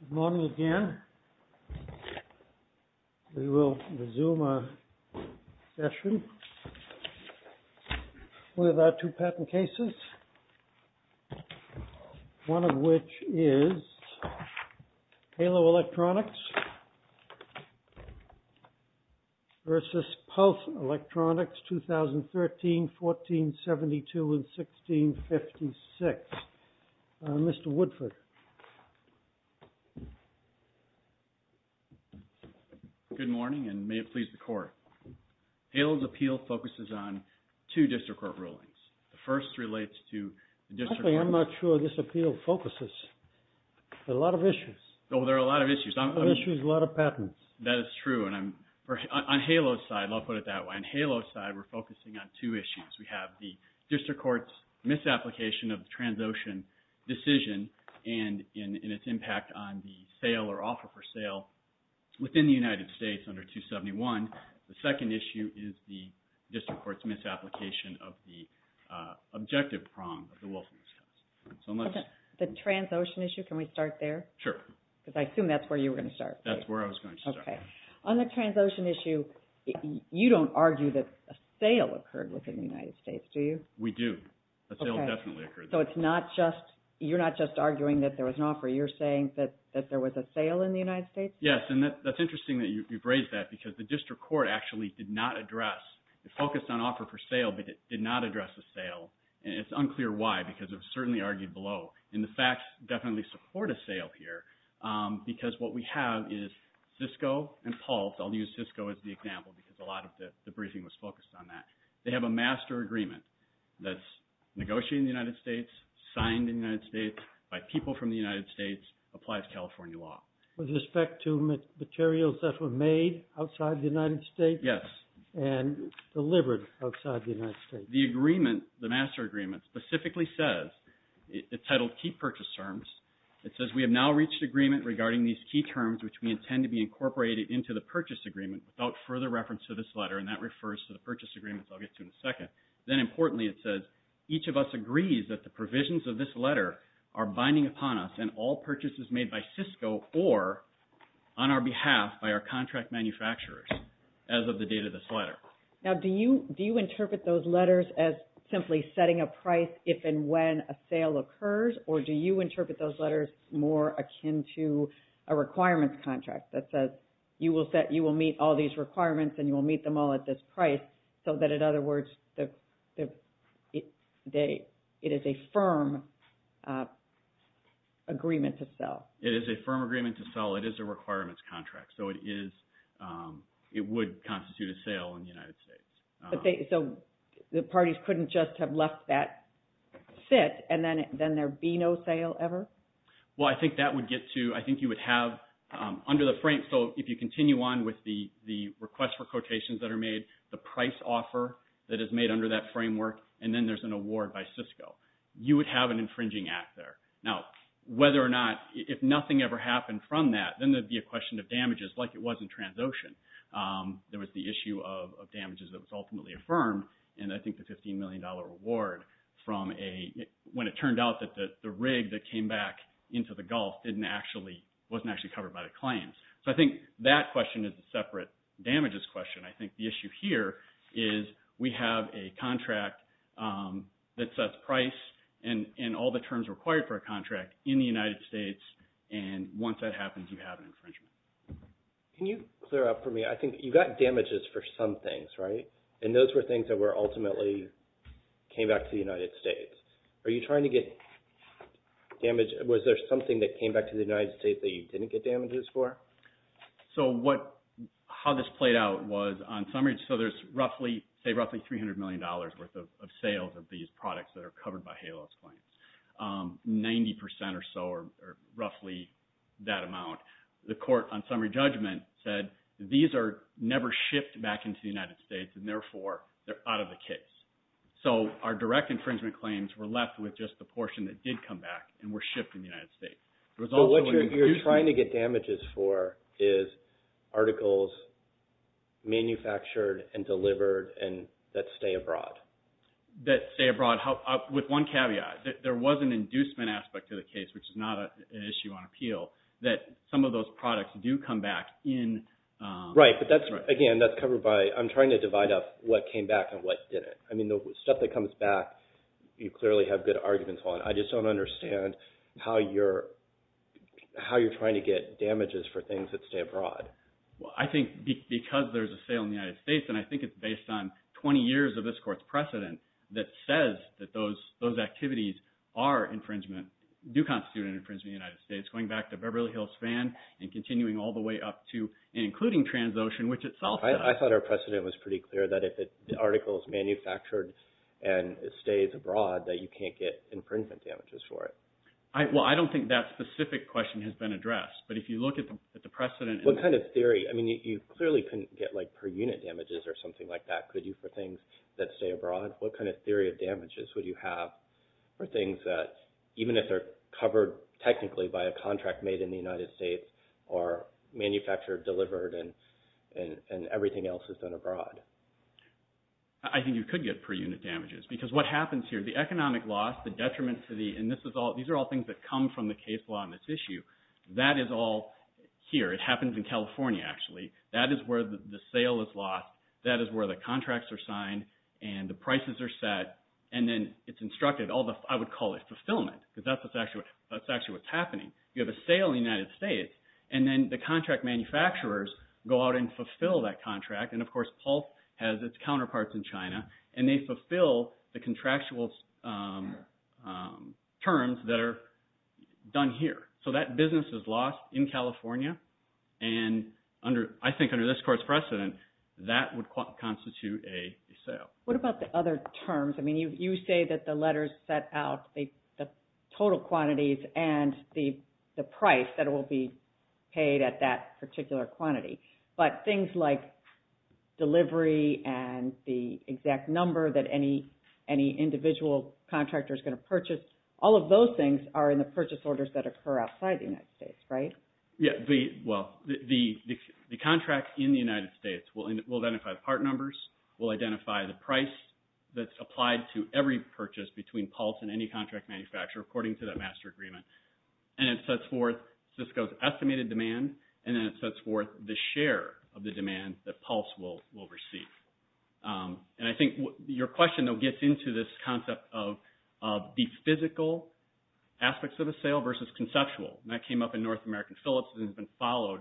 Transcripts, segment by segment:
Good morning again. We will resume our session with our two patent cases, one of which is Halo Electronics v. Pulse Electronics, 2013, 1472, and 1656. Mr. Woodford. Good morning, and may it please the Court. Halo's appeal focuses on two district court rulings. The first relates to the district court... Actually, I'm not sure this appeal focuses. There are a lot of issues. Oh, there are a lot of issues. A lot of issues, a lot of patents. That is true, and on Halo's side, and I'll put it that way, on Halo's side, we're focusing on two issues. We have the district court's misapplication of the Transocean decision and its impact on the sale or offer for sale within the United States under 271. The second issue is the district court's misapplication of the objective prong of the Wolf and East Coast. The Transocean issue, can we start there? Sure. Because I assume that's where you were going to start. That's where I was going to start. Okay. On the Transocean issue, you don't argue that a sale occurred within the United States, do you? We do. A sale definitely occurred. Okay. So it's not just, you're not just arguing that there was an offer. You're saying that there was a sale in the United States? Yes, and that's interesting that you've raised that, because the district court actually did not address, focused on offer for sale, but did not address the sale, and it's unclear why, because it was certainly argued below. And the facts definitely support a sale here, because what we have is Cisco and Pulse. I'll use Cisco as the example, because a lot of the briefing was focused on that. They have a master agreement that's negotiated in the United States, signed in the United States, by people from the United States, applies California law. With respect to materials that were made outside the United States? Yes. And delivered outside the United States. The agreement, the master agreement, specifically says, it's titled, Key Purchase Terms. It says, We have now reached agreement regarding these key terms, which we intend to be incorporated into the purchase agreement, without further reference to this letter, and that refers to the purchase agreements I'll get to in a second. Then, importantly, it says, Each of us agrees that the provisions of this letter are binding upon us, and all purchases made by Cisco or on our behalf by our contract manufacturers, as of the date of this letter. Now, do you interpret those letters as simply setting a price if and when a sale occurs, or do you interpret those letters more akin to a requirements contract that says, You will meet all these requirements, and you will meet them all at this price, so that, in other words, it is a firm agreement to sell. It is a firm agreement to sell. It is a requirements contract, so it would constitute a sale in the United States. So the parties couldn't just have left that sit, and then there be no sale ever? Well, I think that would get to, I think you would have under the frame, so if you continue on with the request for quotations that are made, the price offer that is made under that framework, and then there's an award by Cisco. You would have an infringing act there. Now, whether or not, if nothing ever happened from that, then there would be a question of damages, like it was in Transocean. There was the issue of damages that was ultimately affirmed, and I think the $15 million reward from a, when it turned out that the rig that came back into the Gulf wasn't actually covered by the claims. So I think that question is a separate damages question. I think the issue here is we have a contract that sets price and all the terms required for a contract in the United States, and once that happens, you have an infringement. Can you clear up for me? I think you got damages for some things, right? And those were things that were ultimately came back to the United States. Are you trying to get damage? Was there something that came back to the United States that you didn't get damages for? So what, how this played out was on summary, so there's roughly, say roughly $300 million worth of sales of these products that are covered by HALOS claims. 90% or so are roughly that amount. The court on summary judgment said these are never shipped back into the United States, and therefore, they're out of the case. So our direct infringement claims were left with just the portion that did come back and were shipped in the United States. What you're trying to get damages for is articles manufactured and delivered and that stay abroad. That stay abroad. With one caveat, there was an inducement aspect to the case, which is not an issue on appeal, that some of those products do come back in. Right, but that's, again, that's covered by, I'm trying to divide up what came back and what didn't. I mean, the stuff that comes back, you clearly have good arguments on. I just don't understand how you're trying to get damages for things that stay abroad. Well, I think because there's a sale in the United States, and I think it's based on 20 years of this court's precedent, that says that those activities are infringement, do constitute an infringement in the United States, going back to Beverly Hills Van and continuing all the way up to and including Transocean, which itself does. I thought our precedent was pretty clear that if the article is manufactured and it stays abroad, that you can't get infringement damages for it. Well, I don't think that specific question has been addressed, but if you look at the precedent. What kind of theory? I mean, you clearly couldn't get per-unit damages or something like that, could you, for things that stay abroad? What kind of theory of damages would you have for things that, even if they're covered technically by a contract made in the United States, are manufactured, delivered, and everything else is done abroad? I think you could get per-unit damages, because what happens here, the economic loss, the detriment to the, and these are all things that come from the case law on this issue, that is all here. It happens in California, actually. That is where the sale is lost. That is where the contracts are signed and the prices are set, and then it's instructed, I would call it fulfillment, because that's actually what's happening. You have a sale in the United States, and then the contract manufacturers go out and fulfill that contract, and, of course, Pulse has its counterparts in China, and they fulfill the contractual terms that are done here. So that business is lost in California, and I think under this court's precedent, that would constitute a sale. What about the other terms? I mean, you say that the letters set out the total quantities and the price that will be paid at that particular quantity, but things like delivery and the exact number that any individual contractor is going to purchase, all of those things are in the purchase orders that occur outside the United States, right? Yeah. Well, the contract in the United States will identify the part numbers, will identify the price that's applied to every purchase between Pulse and any contract manufacturer according to that master agreement, and it sets forth Cisco's estimated demand, and then it sets forth the share of the demand that Pulse will receive. And I think your question, though, fits into this concept of the physical aspects of a sale versus conceptual, and that came up in North American Phillips and has been followed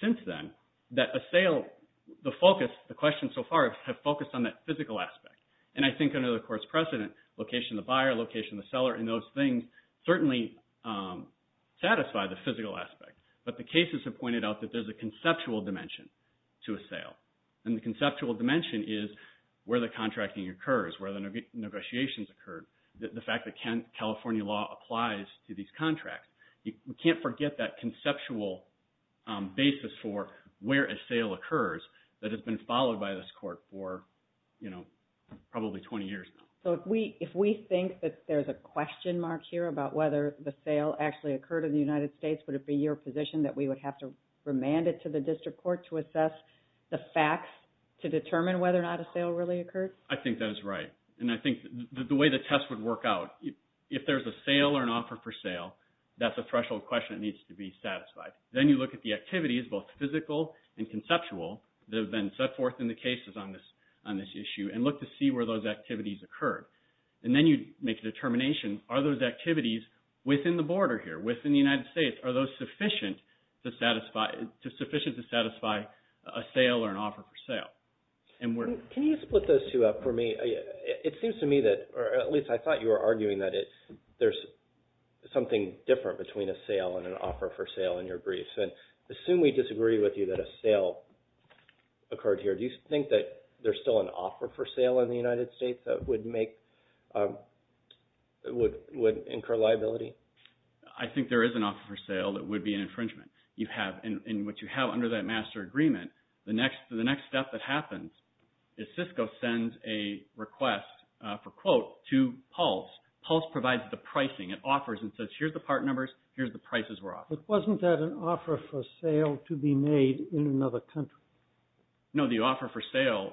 since then, that a sale, the focus, the questions so far have focused on that physical aspect, and I think under the court's precedent, location of the buyer, location of the seller, and those things certainly satisfy the physical aspect, but the cases have pointed out that there's a conceptual dimension to a sale, and the conceptual dimension is where the contracting occurs, where the negotiations occur, the fact that California law applies to these contracts. You can't forget that conceptual basis for where a sale occurs that has been followed by this court for probably 20 years now. So if we think that there's a question mark here about whether the sale actually occurred in the United States, would it be your position that we would have to remand it to the district court to assess the facts to determine whether or not a sale really occurred? I think that is right, and I think the way the test would work out, if there's a sale or an offer for sale, that's a threshold question that needs to be satisfied. Then you look at the activities, both physical and conceptual, that have been set forth in the cases on this issue and look to see where those activities occurred, and then you make a determination, are those activities within the border here, within the United States, are those sufficient to satisfy a sale or an offer for sale? Can you split those two up for me? It seems to me that, or at least I thought you were arguing that there's something different between a sale and an offer for sale in your briefs. Assume we disagree with you that a sale occurred here. Do you think that there's still an offer for sale in the United States that would make, would incur liability? I think there is an offer for sale that would be an infringement. You have, and what you have under that master agreement, the next step that happens is Cisco sends a request for, quote, to Pulse. Pulse provides the pricing. It offers and says, here's the part numbers, here's the prices we're offering. But wasn't that an offer for sale to be made in another country? No, the offer for sale,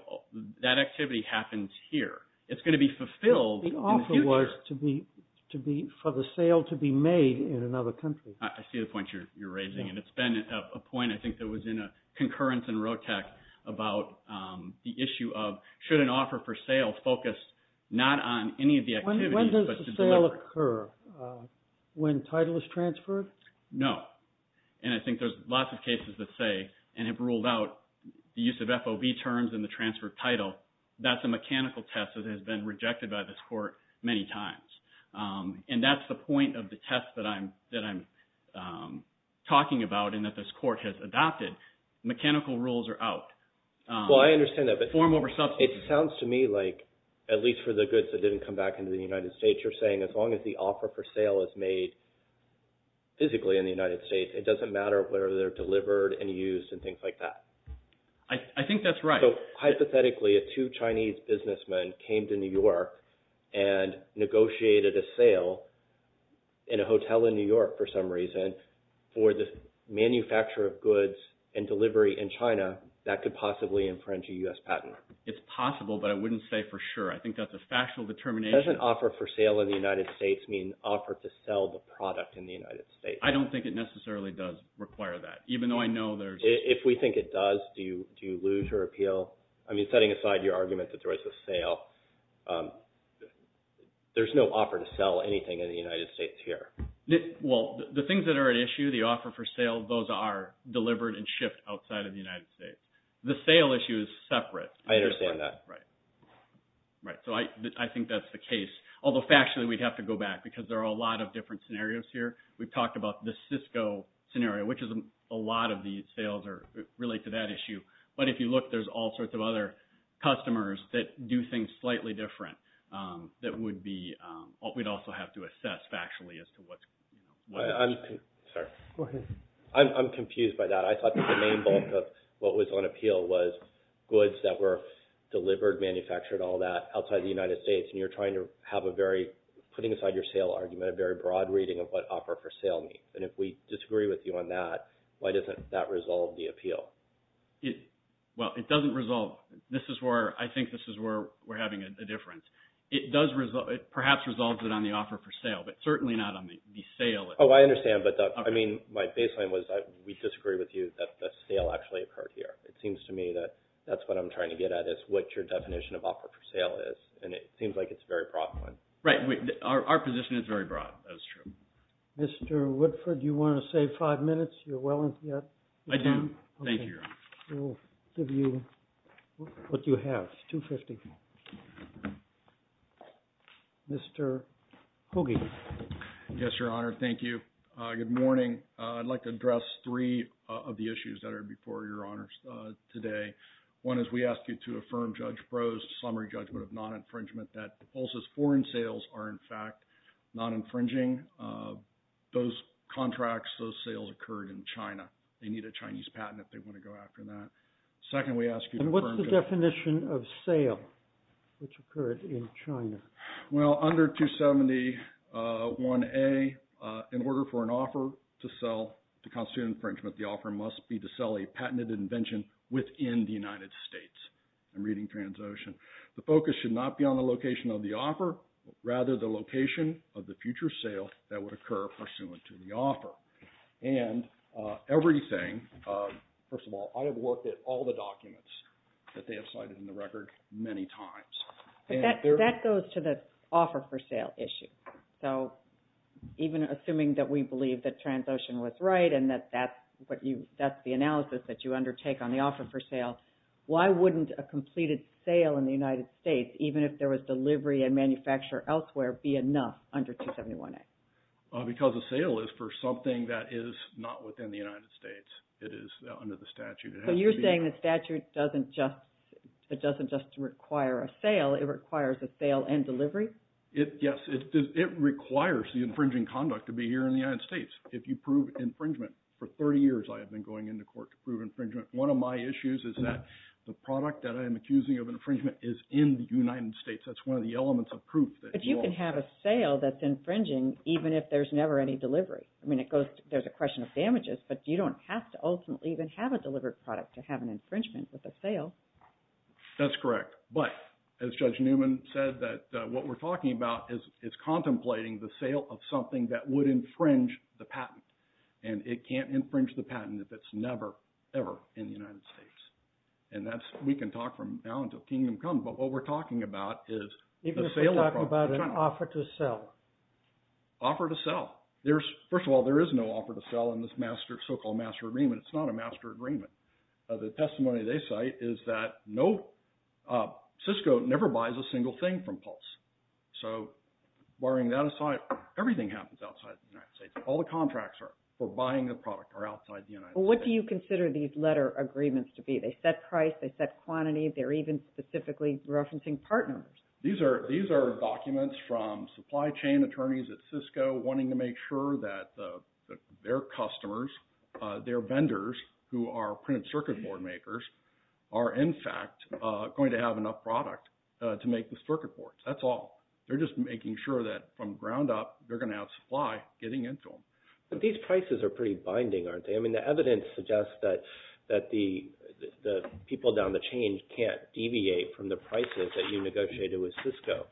that activity happens here. It's going to be fulfilled in the future. The offer was for the sale to be made in another country. I see the point you're raising, and it's been a point I think that was in a concurrence in Rotec about the issue of, should an offer for sale focus not on any of the activities but the delivery? When does the sale occur? When title is transferred? No. And I think there's lots of cases that say, and have ruled out the use of FOB terms in the transfer of title. That's a mechanical test that has been rejected by this court many times. And that's the point of the test that I'm talking about and that this court has adopted. Mechanical rules are out. Well, I understand that. Form over substance. It sounds to me like, at least for the goods that didn't come back into the United States, you're saying as long as the offer for sale is made physically in the United States, it doesn't matter whether they're delivered and used and things like that. I think that's right. So, hypothetically, if two Chinese businessmen came to New York and negotiated a sale in a hotel in New York for some reason for the manufacture of goods and delivery in China, that could possibly infringe a U.S. patent. It's possible, but I wouldn't say for sure. I think that's a factual determination. Does an offer for sale in the United States mean an offer to sell the product in the United States? I don't think it necessarily does require that, even though I know there's— If we think it does, do you lose your appeal? I mean, setting aside your argument that there was a sale, there's no offer to sell anything in the United States here. Well, the things that are at issue, the offer for sale, those are delivered and shipped outside of the United States. The sale issue is separate. I understand that. Right. So I think that's the case, although factually we'd have to go back because there are a lot of different scenarios here. We've talked about the Cisco scenario, which is a lot of the sales relate to that issue. But if you look, there's all sorts of other customers that do things slightly different that would be—we'd also have to assess factually as to what's— I'm—sorry. Go ahead. I'm confused by that. I thought that the main bulk of what was on appeal was goods that were delivered, manufactured, all that, outside of the United States, and you're trying to have a very—putting aside your sale argument, a very broad reading of what offer for sale means. And if we disagree with you on that, why doesn't that resolve the appeal? Well, it doesn't resolve. This is where—I think this is where we're having a difference. It does—perhaps resolves it on the offer for sale, but certainly not on the sale. Oh, I understand. But, Doug, I mean, my baseline was we disagree with you that the sale actually occurred here. It seems to me that that's what I'm trying to get at is what your definition of offer for sale is, and it seems like it's a very broad one. Right. Our position is very broad. That is true. Mr. Woodford, do you want to save five minutes? You're well into that. I do. Thank you, Your Honor. We'll give you what you have, $250,000. Mr. Hoogie. Yes, Your Honor. Thank you. Good morning. I'd like to address three of the issues that are before Your Honors today. One is we ask you to affirm Judge Breaux's summary judgment of non-infringement that the Pulse's foreign sales are, in fact, non-infringing. Those contracts, those sales occurred in China. They need a Chinese patent if they want to go after that. Second, we ask you to affirm— And what's the definition of sale which occurred in China? Well, under 271A, in order for an offer to sell to constitute infringement, the offer must be to sell a patented invention within the United States. I'm reading TransOcean. The focus should not be on the location of the offer, rather the location of the future sale that would occur pursuant to the offer. And everything, first of all, I have worked at all the documents that they have cited in the record many times. That goes to the offer for sale issue. So even assuming that we believe that TransOcean was right and that that's the analysis that you undertake on the offer for sale, why wouldn't a completed sale in the United States, even if there was delivery and manufacture elsewhere, be enough under 271A? Because a sale is for something that is not within the United States. It is under the statute. So you're saying the statute doesn't just require a sale. It requires a sale and delivery? Yes. It requires the infringing conduct to be here in the United States. If you prove infringement. For 30 years I have been going into court to prove infringement. One of my issues is that the product that I am accusing of infringement is in the United States. That's one of the elements of proof. But you can have a sale that's infringing even if there's never any delivery. I mean, there's a question of damages, but you don't have to ultimately even have a delivered product to have an infringement with a sale. That's correct. But as Judge Newman said, what we're talking about is contemplating the sale of something that would infringe the patent. And it can't infringe the patent if it's never, ever in the United States. And we can talk from now until kingdom comes, but what we're talking about is the sale of products in China. Even if we're talking about an offer to sell? Offer to sell. First of all, there is no offer to sell in this so-called master agreement. It's not a master agreement. The testimony they cite is that Cisco never buys a single thing from Pulse. So barring that aside, everything happens outside the United States. All the contracts for buying the product are outside the United States. What do you consider these letter agreements to be? They set price. They set quantity. They're even specifically referencing part numbers. These are documents from supply chain attorneys at Cisco wanting to make sure that their customers, their vendors who are printed circuit board makers, are in fact going to have enough product to make the circuit boards. That's all. They're just making sure that from ground up they're going to have supply getting into them. But these prices are pretty binding, aren't they? I mean the evidence suggests that the people down the chain can't deviate from the prices that you negotiated with Cisco.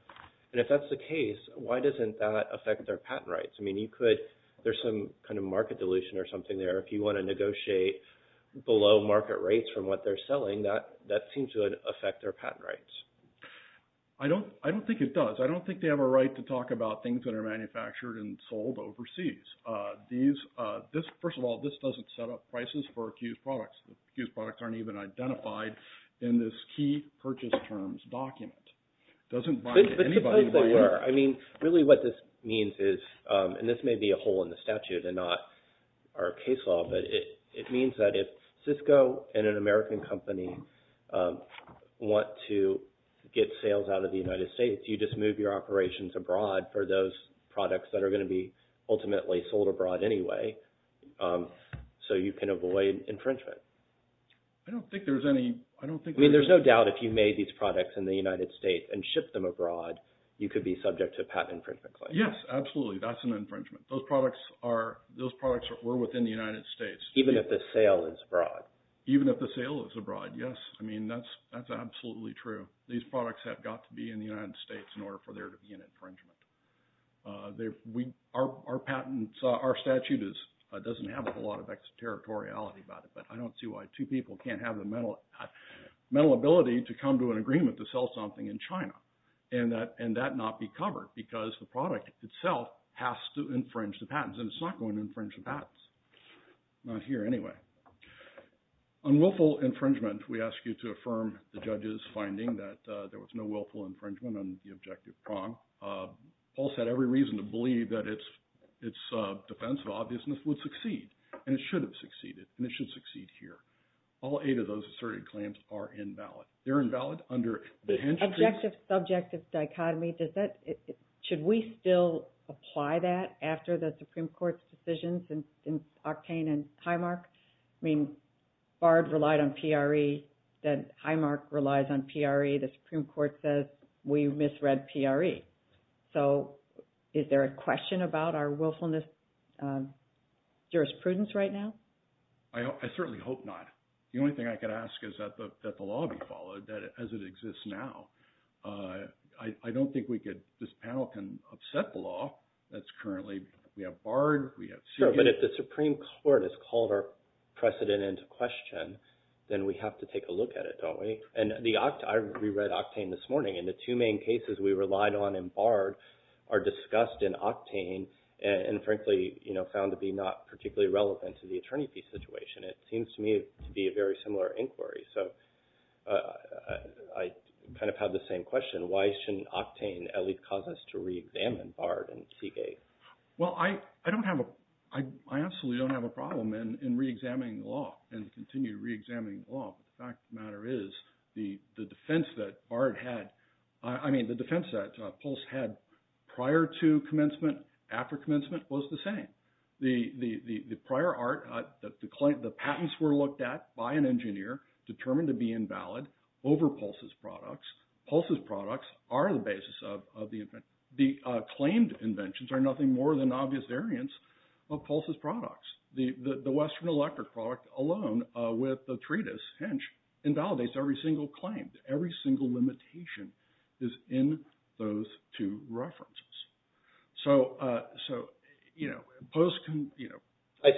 And if that's the case, why doesn't that affect their patent rights? I mean you could, there's some kind of market dilution or something there. If you want to negotiate below market rates from what they're selling, that seems to affect their patent rights. I don't think it does. I don't think they have a right to talk about things that are manufactured and sold overseas. First of all, this doesn't set up prices for accused products. Accused products aren't even identified in this key purchase terms document. It doesn't bind anybody. But suppose they were. I mean really what this means is, and this may be a hole in the statute and not our case law, but it means that if Cisco and an American company want to get sales out of the United States, you just move your operations abroad for those products that are going to be ultimately sold abroad anyway. So you can avoid infringement. I don't think there's any... I mean there's no doubt if you made these products in the United States and shipped them abroad, you could be subject to a patent infringement claim. Yes, absolutely. That's an infringement. Those products were within the United States. Even if the sale is abroad. Even if the sale is abroad, yes. I mean that's absolutely true. These products have got to be in the United States in order for there to be an infringement. Our statute doesn't have a lot of territoriality about it, but I don't see why two people can't have the mental ability to come to an agreement to sell something in China and that not be covered because the product itself has to infringe the patents, and it's not going to infringe the patents. Not here anyway. On willful infringement, we ask you to affirm the judge's finding that there was no willful infringement on the objective prong. Paul said every reason to believe that its defense of obviousness would succeed, and it should have succeeded, and it should succeed here. All eight of those asserted claims are invalid. They're invalid under the... Objective-subjective dichotomy. Should we still apply that after the Supreme Court's decisions in Octane and Highmark? I mean Bard relied on PRE. Highmark relies on PRE. The Supreme Court says we misread PRE. So is there a question about our willfulness jurisprudence right now? I certainly hope not. The only thing I could ask is that the law be followed as it exists now. I don't think this panel can upset the law that's currently... We have Bard. Sure, but if the Supreme Court has called our precedent into question, then we have to take a look at it, don't we? And I reread Octane this morning, and the two main cases we relied on in Bard are discussed in Octane and, frankly, found to be not particularly relevant to the attorney fee situation. It seems to me to be a very similar inquiry. So I kind of have the same question. Why shouldn't Octane at least cause us to reexamine Bard and Seagate? Well, I don't have a... I absolutely don't have a problem in reexamining the law and continue reexamining the law. The fact of the matter is the defense that Bard had... I mean the defense that Pulse had prior to commencement, after commencement, was the same. The prior art, the patents were looked at by an engineer determined to be invalid over Pulse's products. Pulse's products are the basis of the... The claimed inventions are nothing more than obvious variants of Pulse's products. The Western Electric product alone with the treatise, hinge, invalidates every single claim. Every single limitation is in those two references. So, you know, post-commencement... I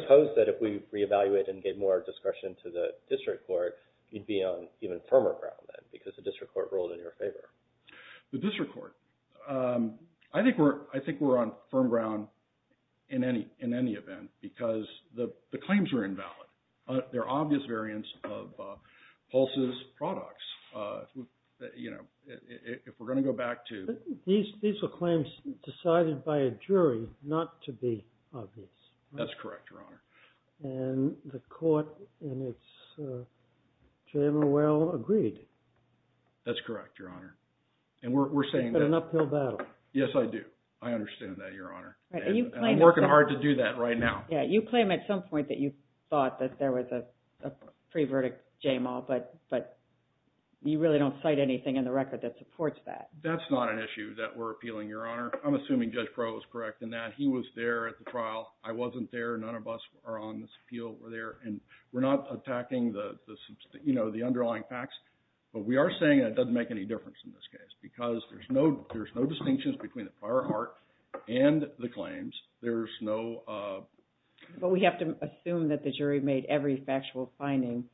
suppose that if we re-evaluate and gave more discretion to the district court, you'd be on even firmer ground then because the district court ruled in your favor. The district court. I think we're on firm ground in any event because the claims were invalid. They're obvious variants of Pulse's products. You know, if we're going to go back to... These were claims decided by a jury not to be obvious. That's correct, Your Honor. And the court in its general will agreed. That's correct, Your Honor. And we're saying that... An uphill battle. Yes, I do. I understand that, Your Honor. And I'm working hard to do that right now. Yeah, you claim at some point that you thought that there was a pre-verdict JAMAL, but you really don't cite anything in the record that supports that. That's not an issue that we're appealing, Your Honor. I'm assuming Judge Crowe was correct in that. He was there at the trial. I wasn't there. None of us are on this appeal were there. And we're not attacking the, you know, the underlying facts. But we are saying that it doesn't make any difference in this case because there's no distinctions between the prior art and the claims. But we have to assume that the jury made every factual finding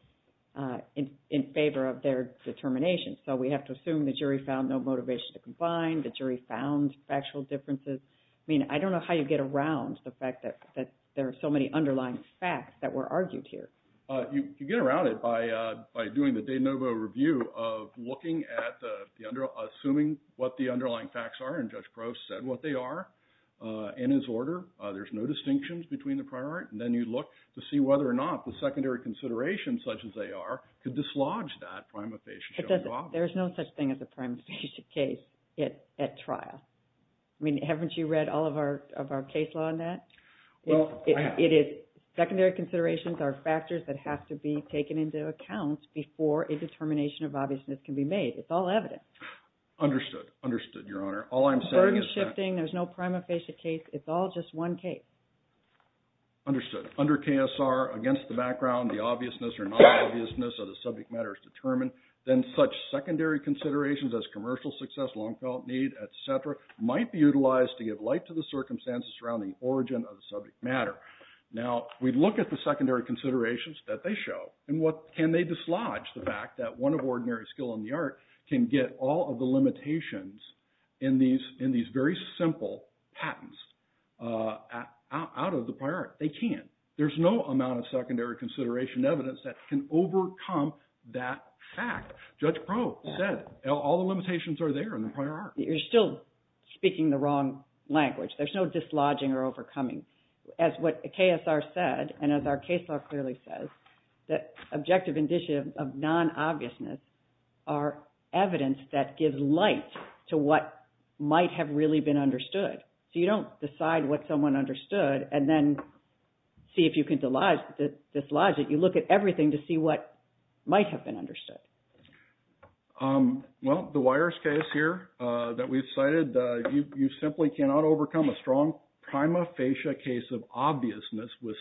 in favor of their determination. So we have to assume the jury found no motivation to confine. The jury found factual differences. I mean, I don't know how you get around the fact that there are so many underlying facts that were argued here. You get around it by doing the de novo review of looking at the – assuming what the underlying facts are. And Judge Crowe said what they are in his order. There's no distinctions between the prior art. And then you look to see whether or not the secondary considerations, such as they are, could dislodge that prima facie. There's no such thing as a prima facie case at trial. I mean, haven't you read all of our case law on that? Well, I have. It is – secondary considerations are factors that have to be taken into account before a determination of obviousness can be made. It's all evident. Understood. Understood, Your Honor. All I'm saying is that – The burden is shifting. There's no prima facie case. It's all just one case. Understood. Under KSR, against the background, the obviousness or non-obviousness of the subject matter is determined. Then such secondary considerations as commercial success, long-felt need, et cetera, might be utilized to give light to the circumstances surrounding the origin of the subject matter. Now, we look at the secondary considerations that they show. And what – can they dislodge the fact that one of ordinary skill in the art can get all of the limitations in these very simple patents out of the prior art? They can't. There's no amount of secondary consideration evidence that can overcome that fact. Judge Proh said all the limitations are there in the prior art. You're still speaking the wrong language. There's no dislodging or overcoming. As what KSR said, and as our case law clearly says, that objective indicia of non-obviousness are evidence that gives light to what might have really been understood. So you don't decide what someone understood and then see if you can dislodge it. You look at everything to see what might have been understood. Well, the wires case here that we've cited, you simply cannot overcome a strong prima facie case of obviousness with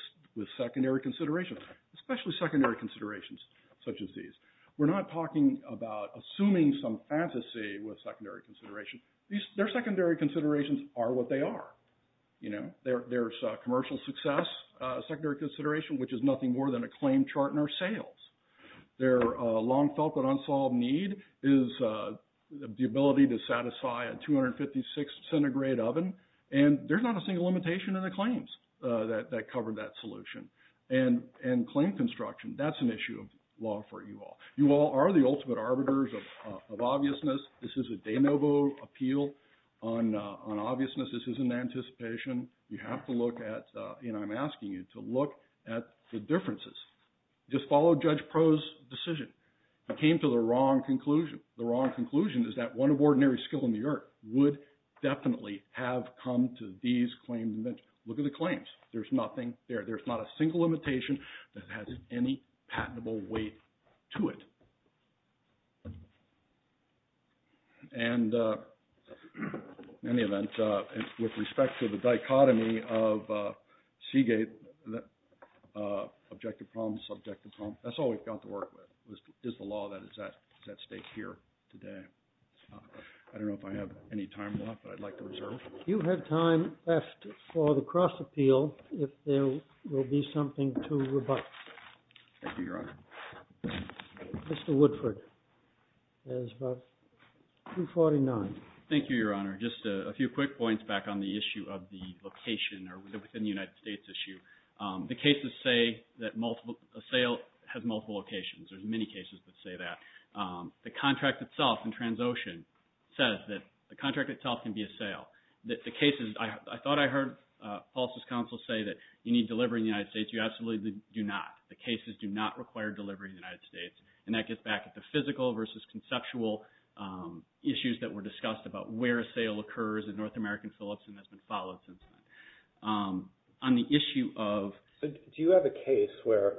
secondary considerations, especially secondary considerations such as these. We're not talking about assuming some fantasy with secondary considerations. Their secondary considerations are what they are. There's commercial success secondary consideration, which is nothing more than a claim chart and our sales. Their long felt but unsolved need is the ability to satisfy a 256 centigrade oven. And there's not a single limitation in the claims that cover that solution. And claim construction, that's an issue of law for you all. You all are the ultimate arbiters of obviousness. This is a de novo appeal on obviousness. This isn't anticipation. You have to look at, and I'm asking you to look at the differences. Just follow Judge Pro's decision. He came to the wrong conclusion. The wrong conclusion is that one of ordinary skill in the earth would definitely have come to these claims. Look at the claims. There's nothing there. There's not a single limitation that has any patentable weight to it. And in any event, with respect to the dichotomy of Seagate, objective problems, subjective problems, that's all we've got to work with is the law that is at stake here today. I don't know if I have any time left, but I'd like to reserve. You have time left for the cross appeal if there will be something to rebut. Thank you, Your Honor. Mr. Woodford has about 2.49. Thank you, Your Honor. Just a few quick points back on the issue of the location or within the United States issue. The cases say that a sale has multiple locations. There's many cases that say that. The contract itself in Transocean says that the contract itself can be a sale. The cases, I thought I heard Paulson's counsel say that you need delivery in the United States. You absolutely do not. The cases do not require delivery in the United States. And that gets back at the physical versus conceptual issues that were discussed about where a sale occurs in North American Philips and has been followed since then. Do you have a case where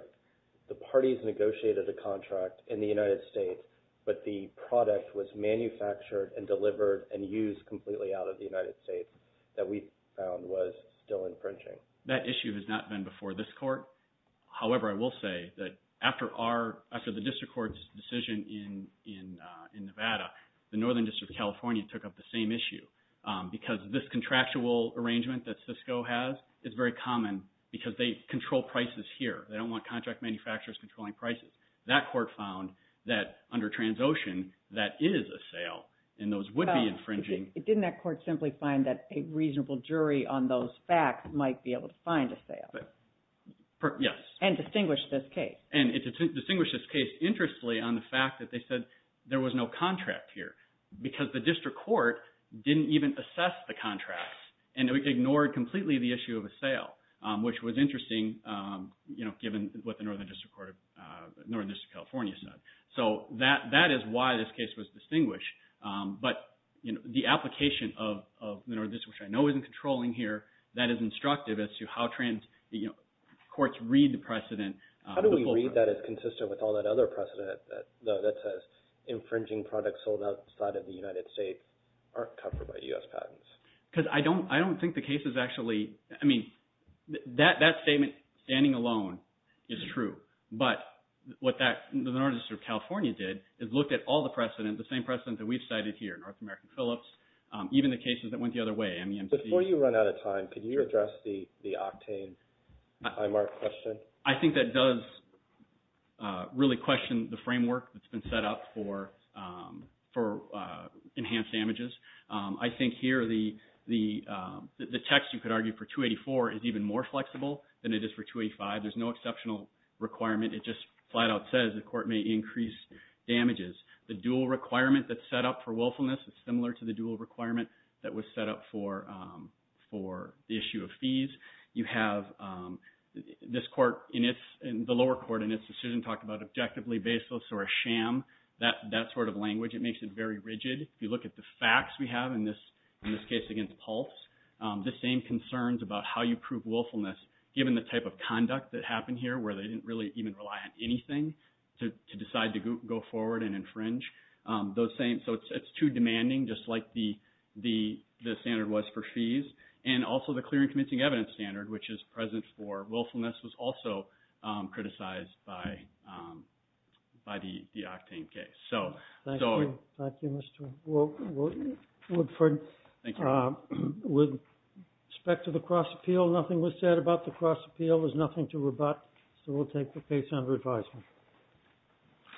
the parties negotiated a contract in the United States, but the product was manufactured and delivered and used completely out of the United States that we found was still infringing? That issue has not been before this court. However, I will say that after the district court's decision in Nevada, the Northern District of California took up the same issue because this contractual arrangement that Cisco has is very common because they control prices here. They don't want contract manufacturers controlling prices. That court found that under Transocean, that is a sale, and those would be infringing. Didn't that court simply find that a reasonable jury on those facts might be able to find a sale? Yes. And distinguish this case. And it distinguished this case interestingly on the fact that they said there was no contract here because the district court didn't even assess the contracts and ignored completely the issue of a sale, which was interesting given what the Northern District of California said. So that is why this case was distinguished. But the application of the Northern District, which I know isn't controlling here, that is instructive as to how courts read the precedent. How do we read that as consistent with all that other precedent, though, that says infringing products sold outside of the United States aren't covered by U.S. patents? Because I don't think the case is actually – I mean, that statement standing alone is true. But what the Northern District of California did is looked at all the precedent, the same precedent that we've cited here, North American Phillips, even the cases that went the other way, MEMC. Before you run out of time, could you address the octane highmark question? I think that does really question the framework that's been set up for enhanced damages. I think here the text, you could argue, for 284 is even more flexible than it is for 285. There's no exceptional requirement. It just flat out says the court may increase damages. The dual requirement that's set up for willfulness is similar to the dual requirement that was set up for the issue of fees. You have this court in its – the lower court in its decision talked about objectively baseless or a sham, that sort of language. It makes it very rigid. If you look at the facts we have in this case against Pulse, the same concerns about how you prove willfulness, given the type of conduct that happened here where they didn't really even rely on anything to decide to go forward and infringe. So it's too demanding, just like the standard was for fees. And also the clear and convincing evidence standard, which is present for willfulness, was also criticized by the octane case. Thank you, Mr. Woodford. With respect to the cross appeal, nothing was said about the cross appeal. There's nothing to rebut. So we'll take the case under advisement.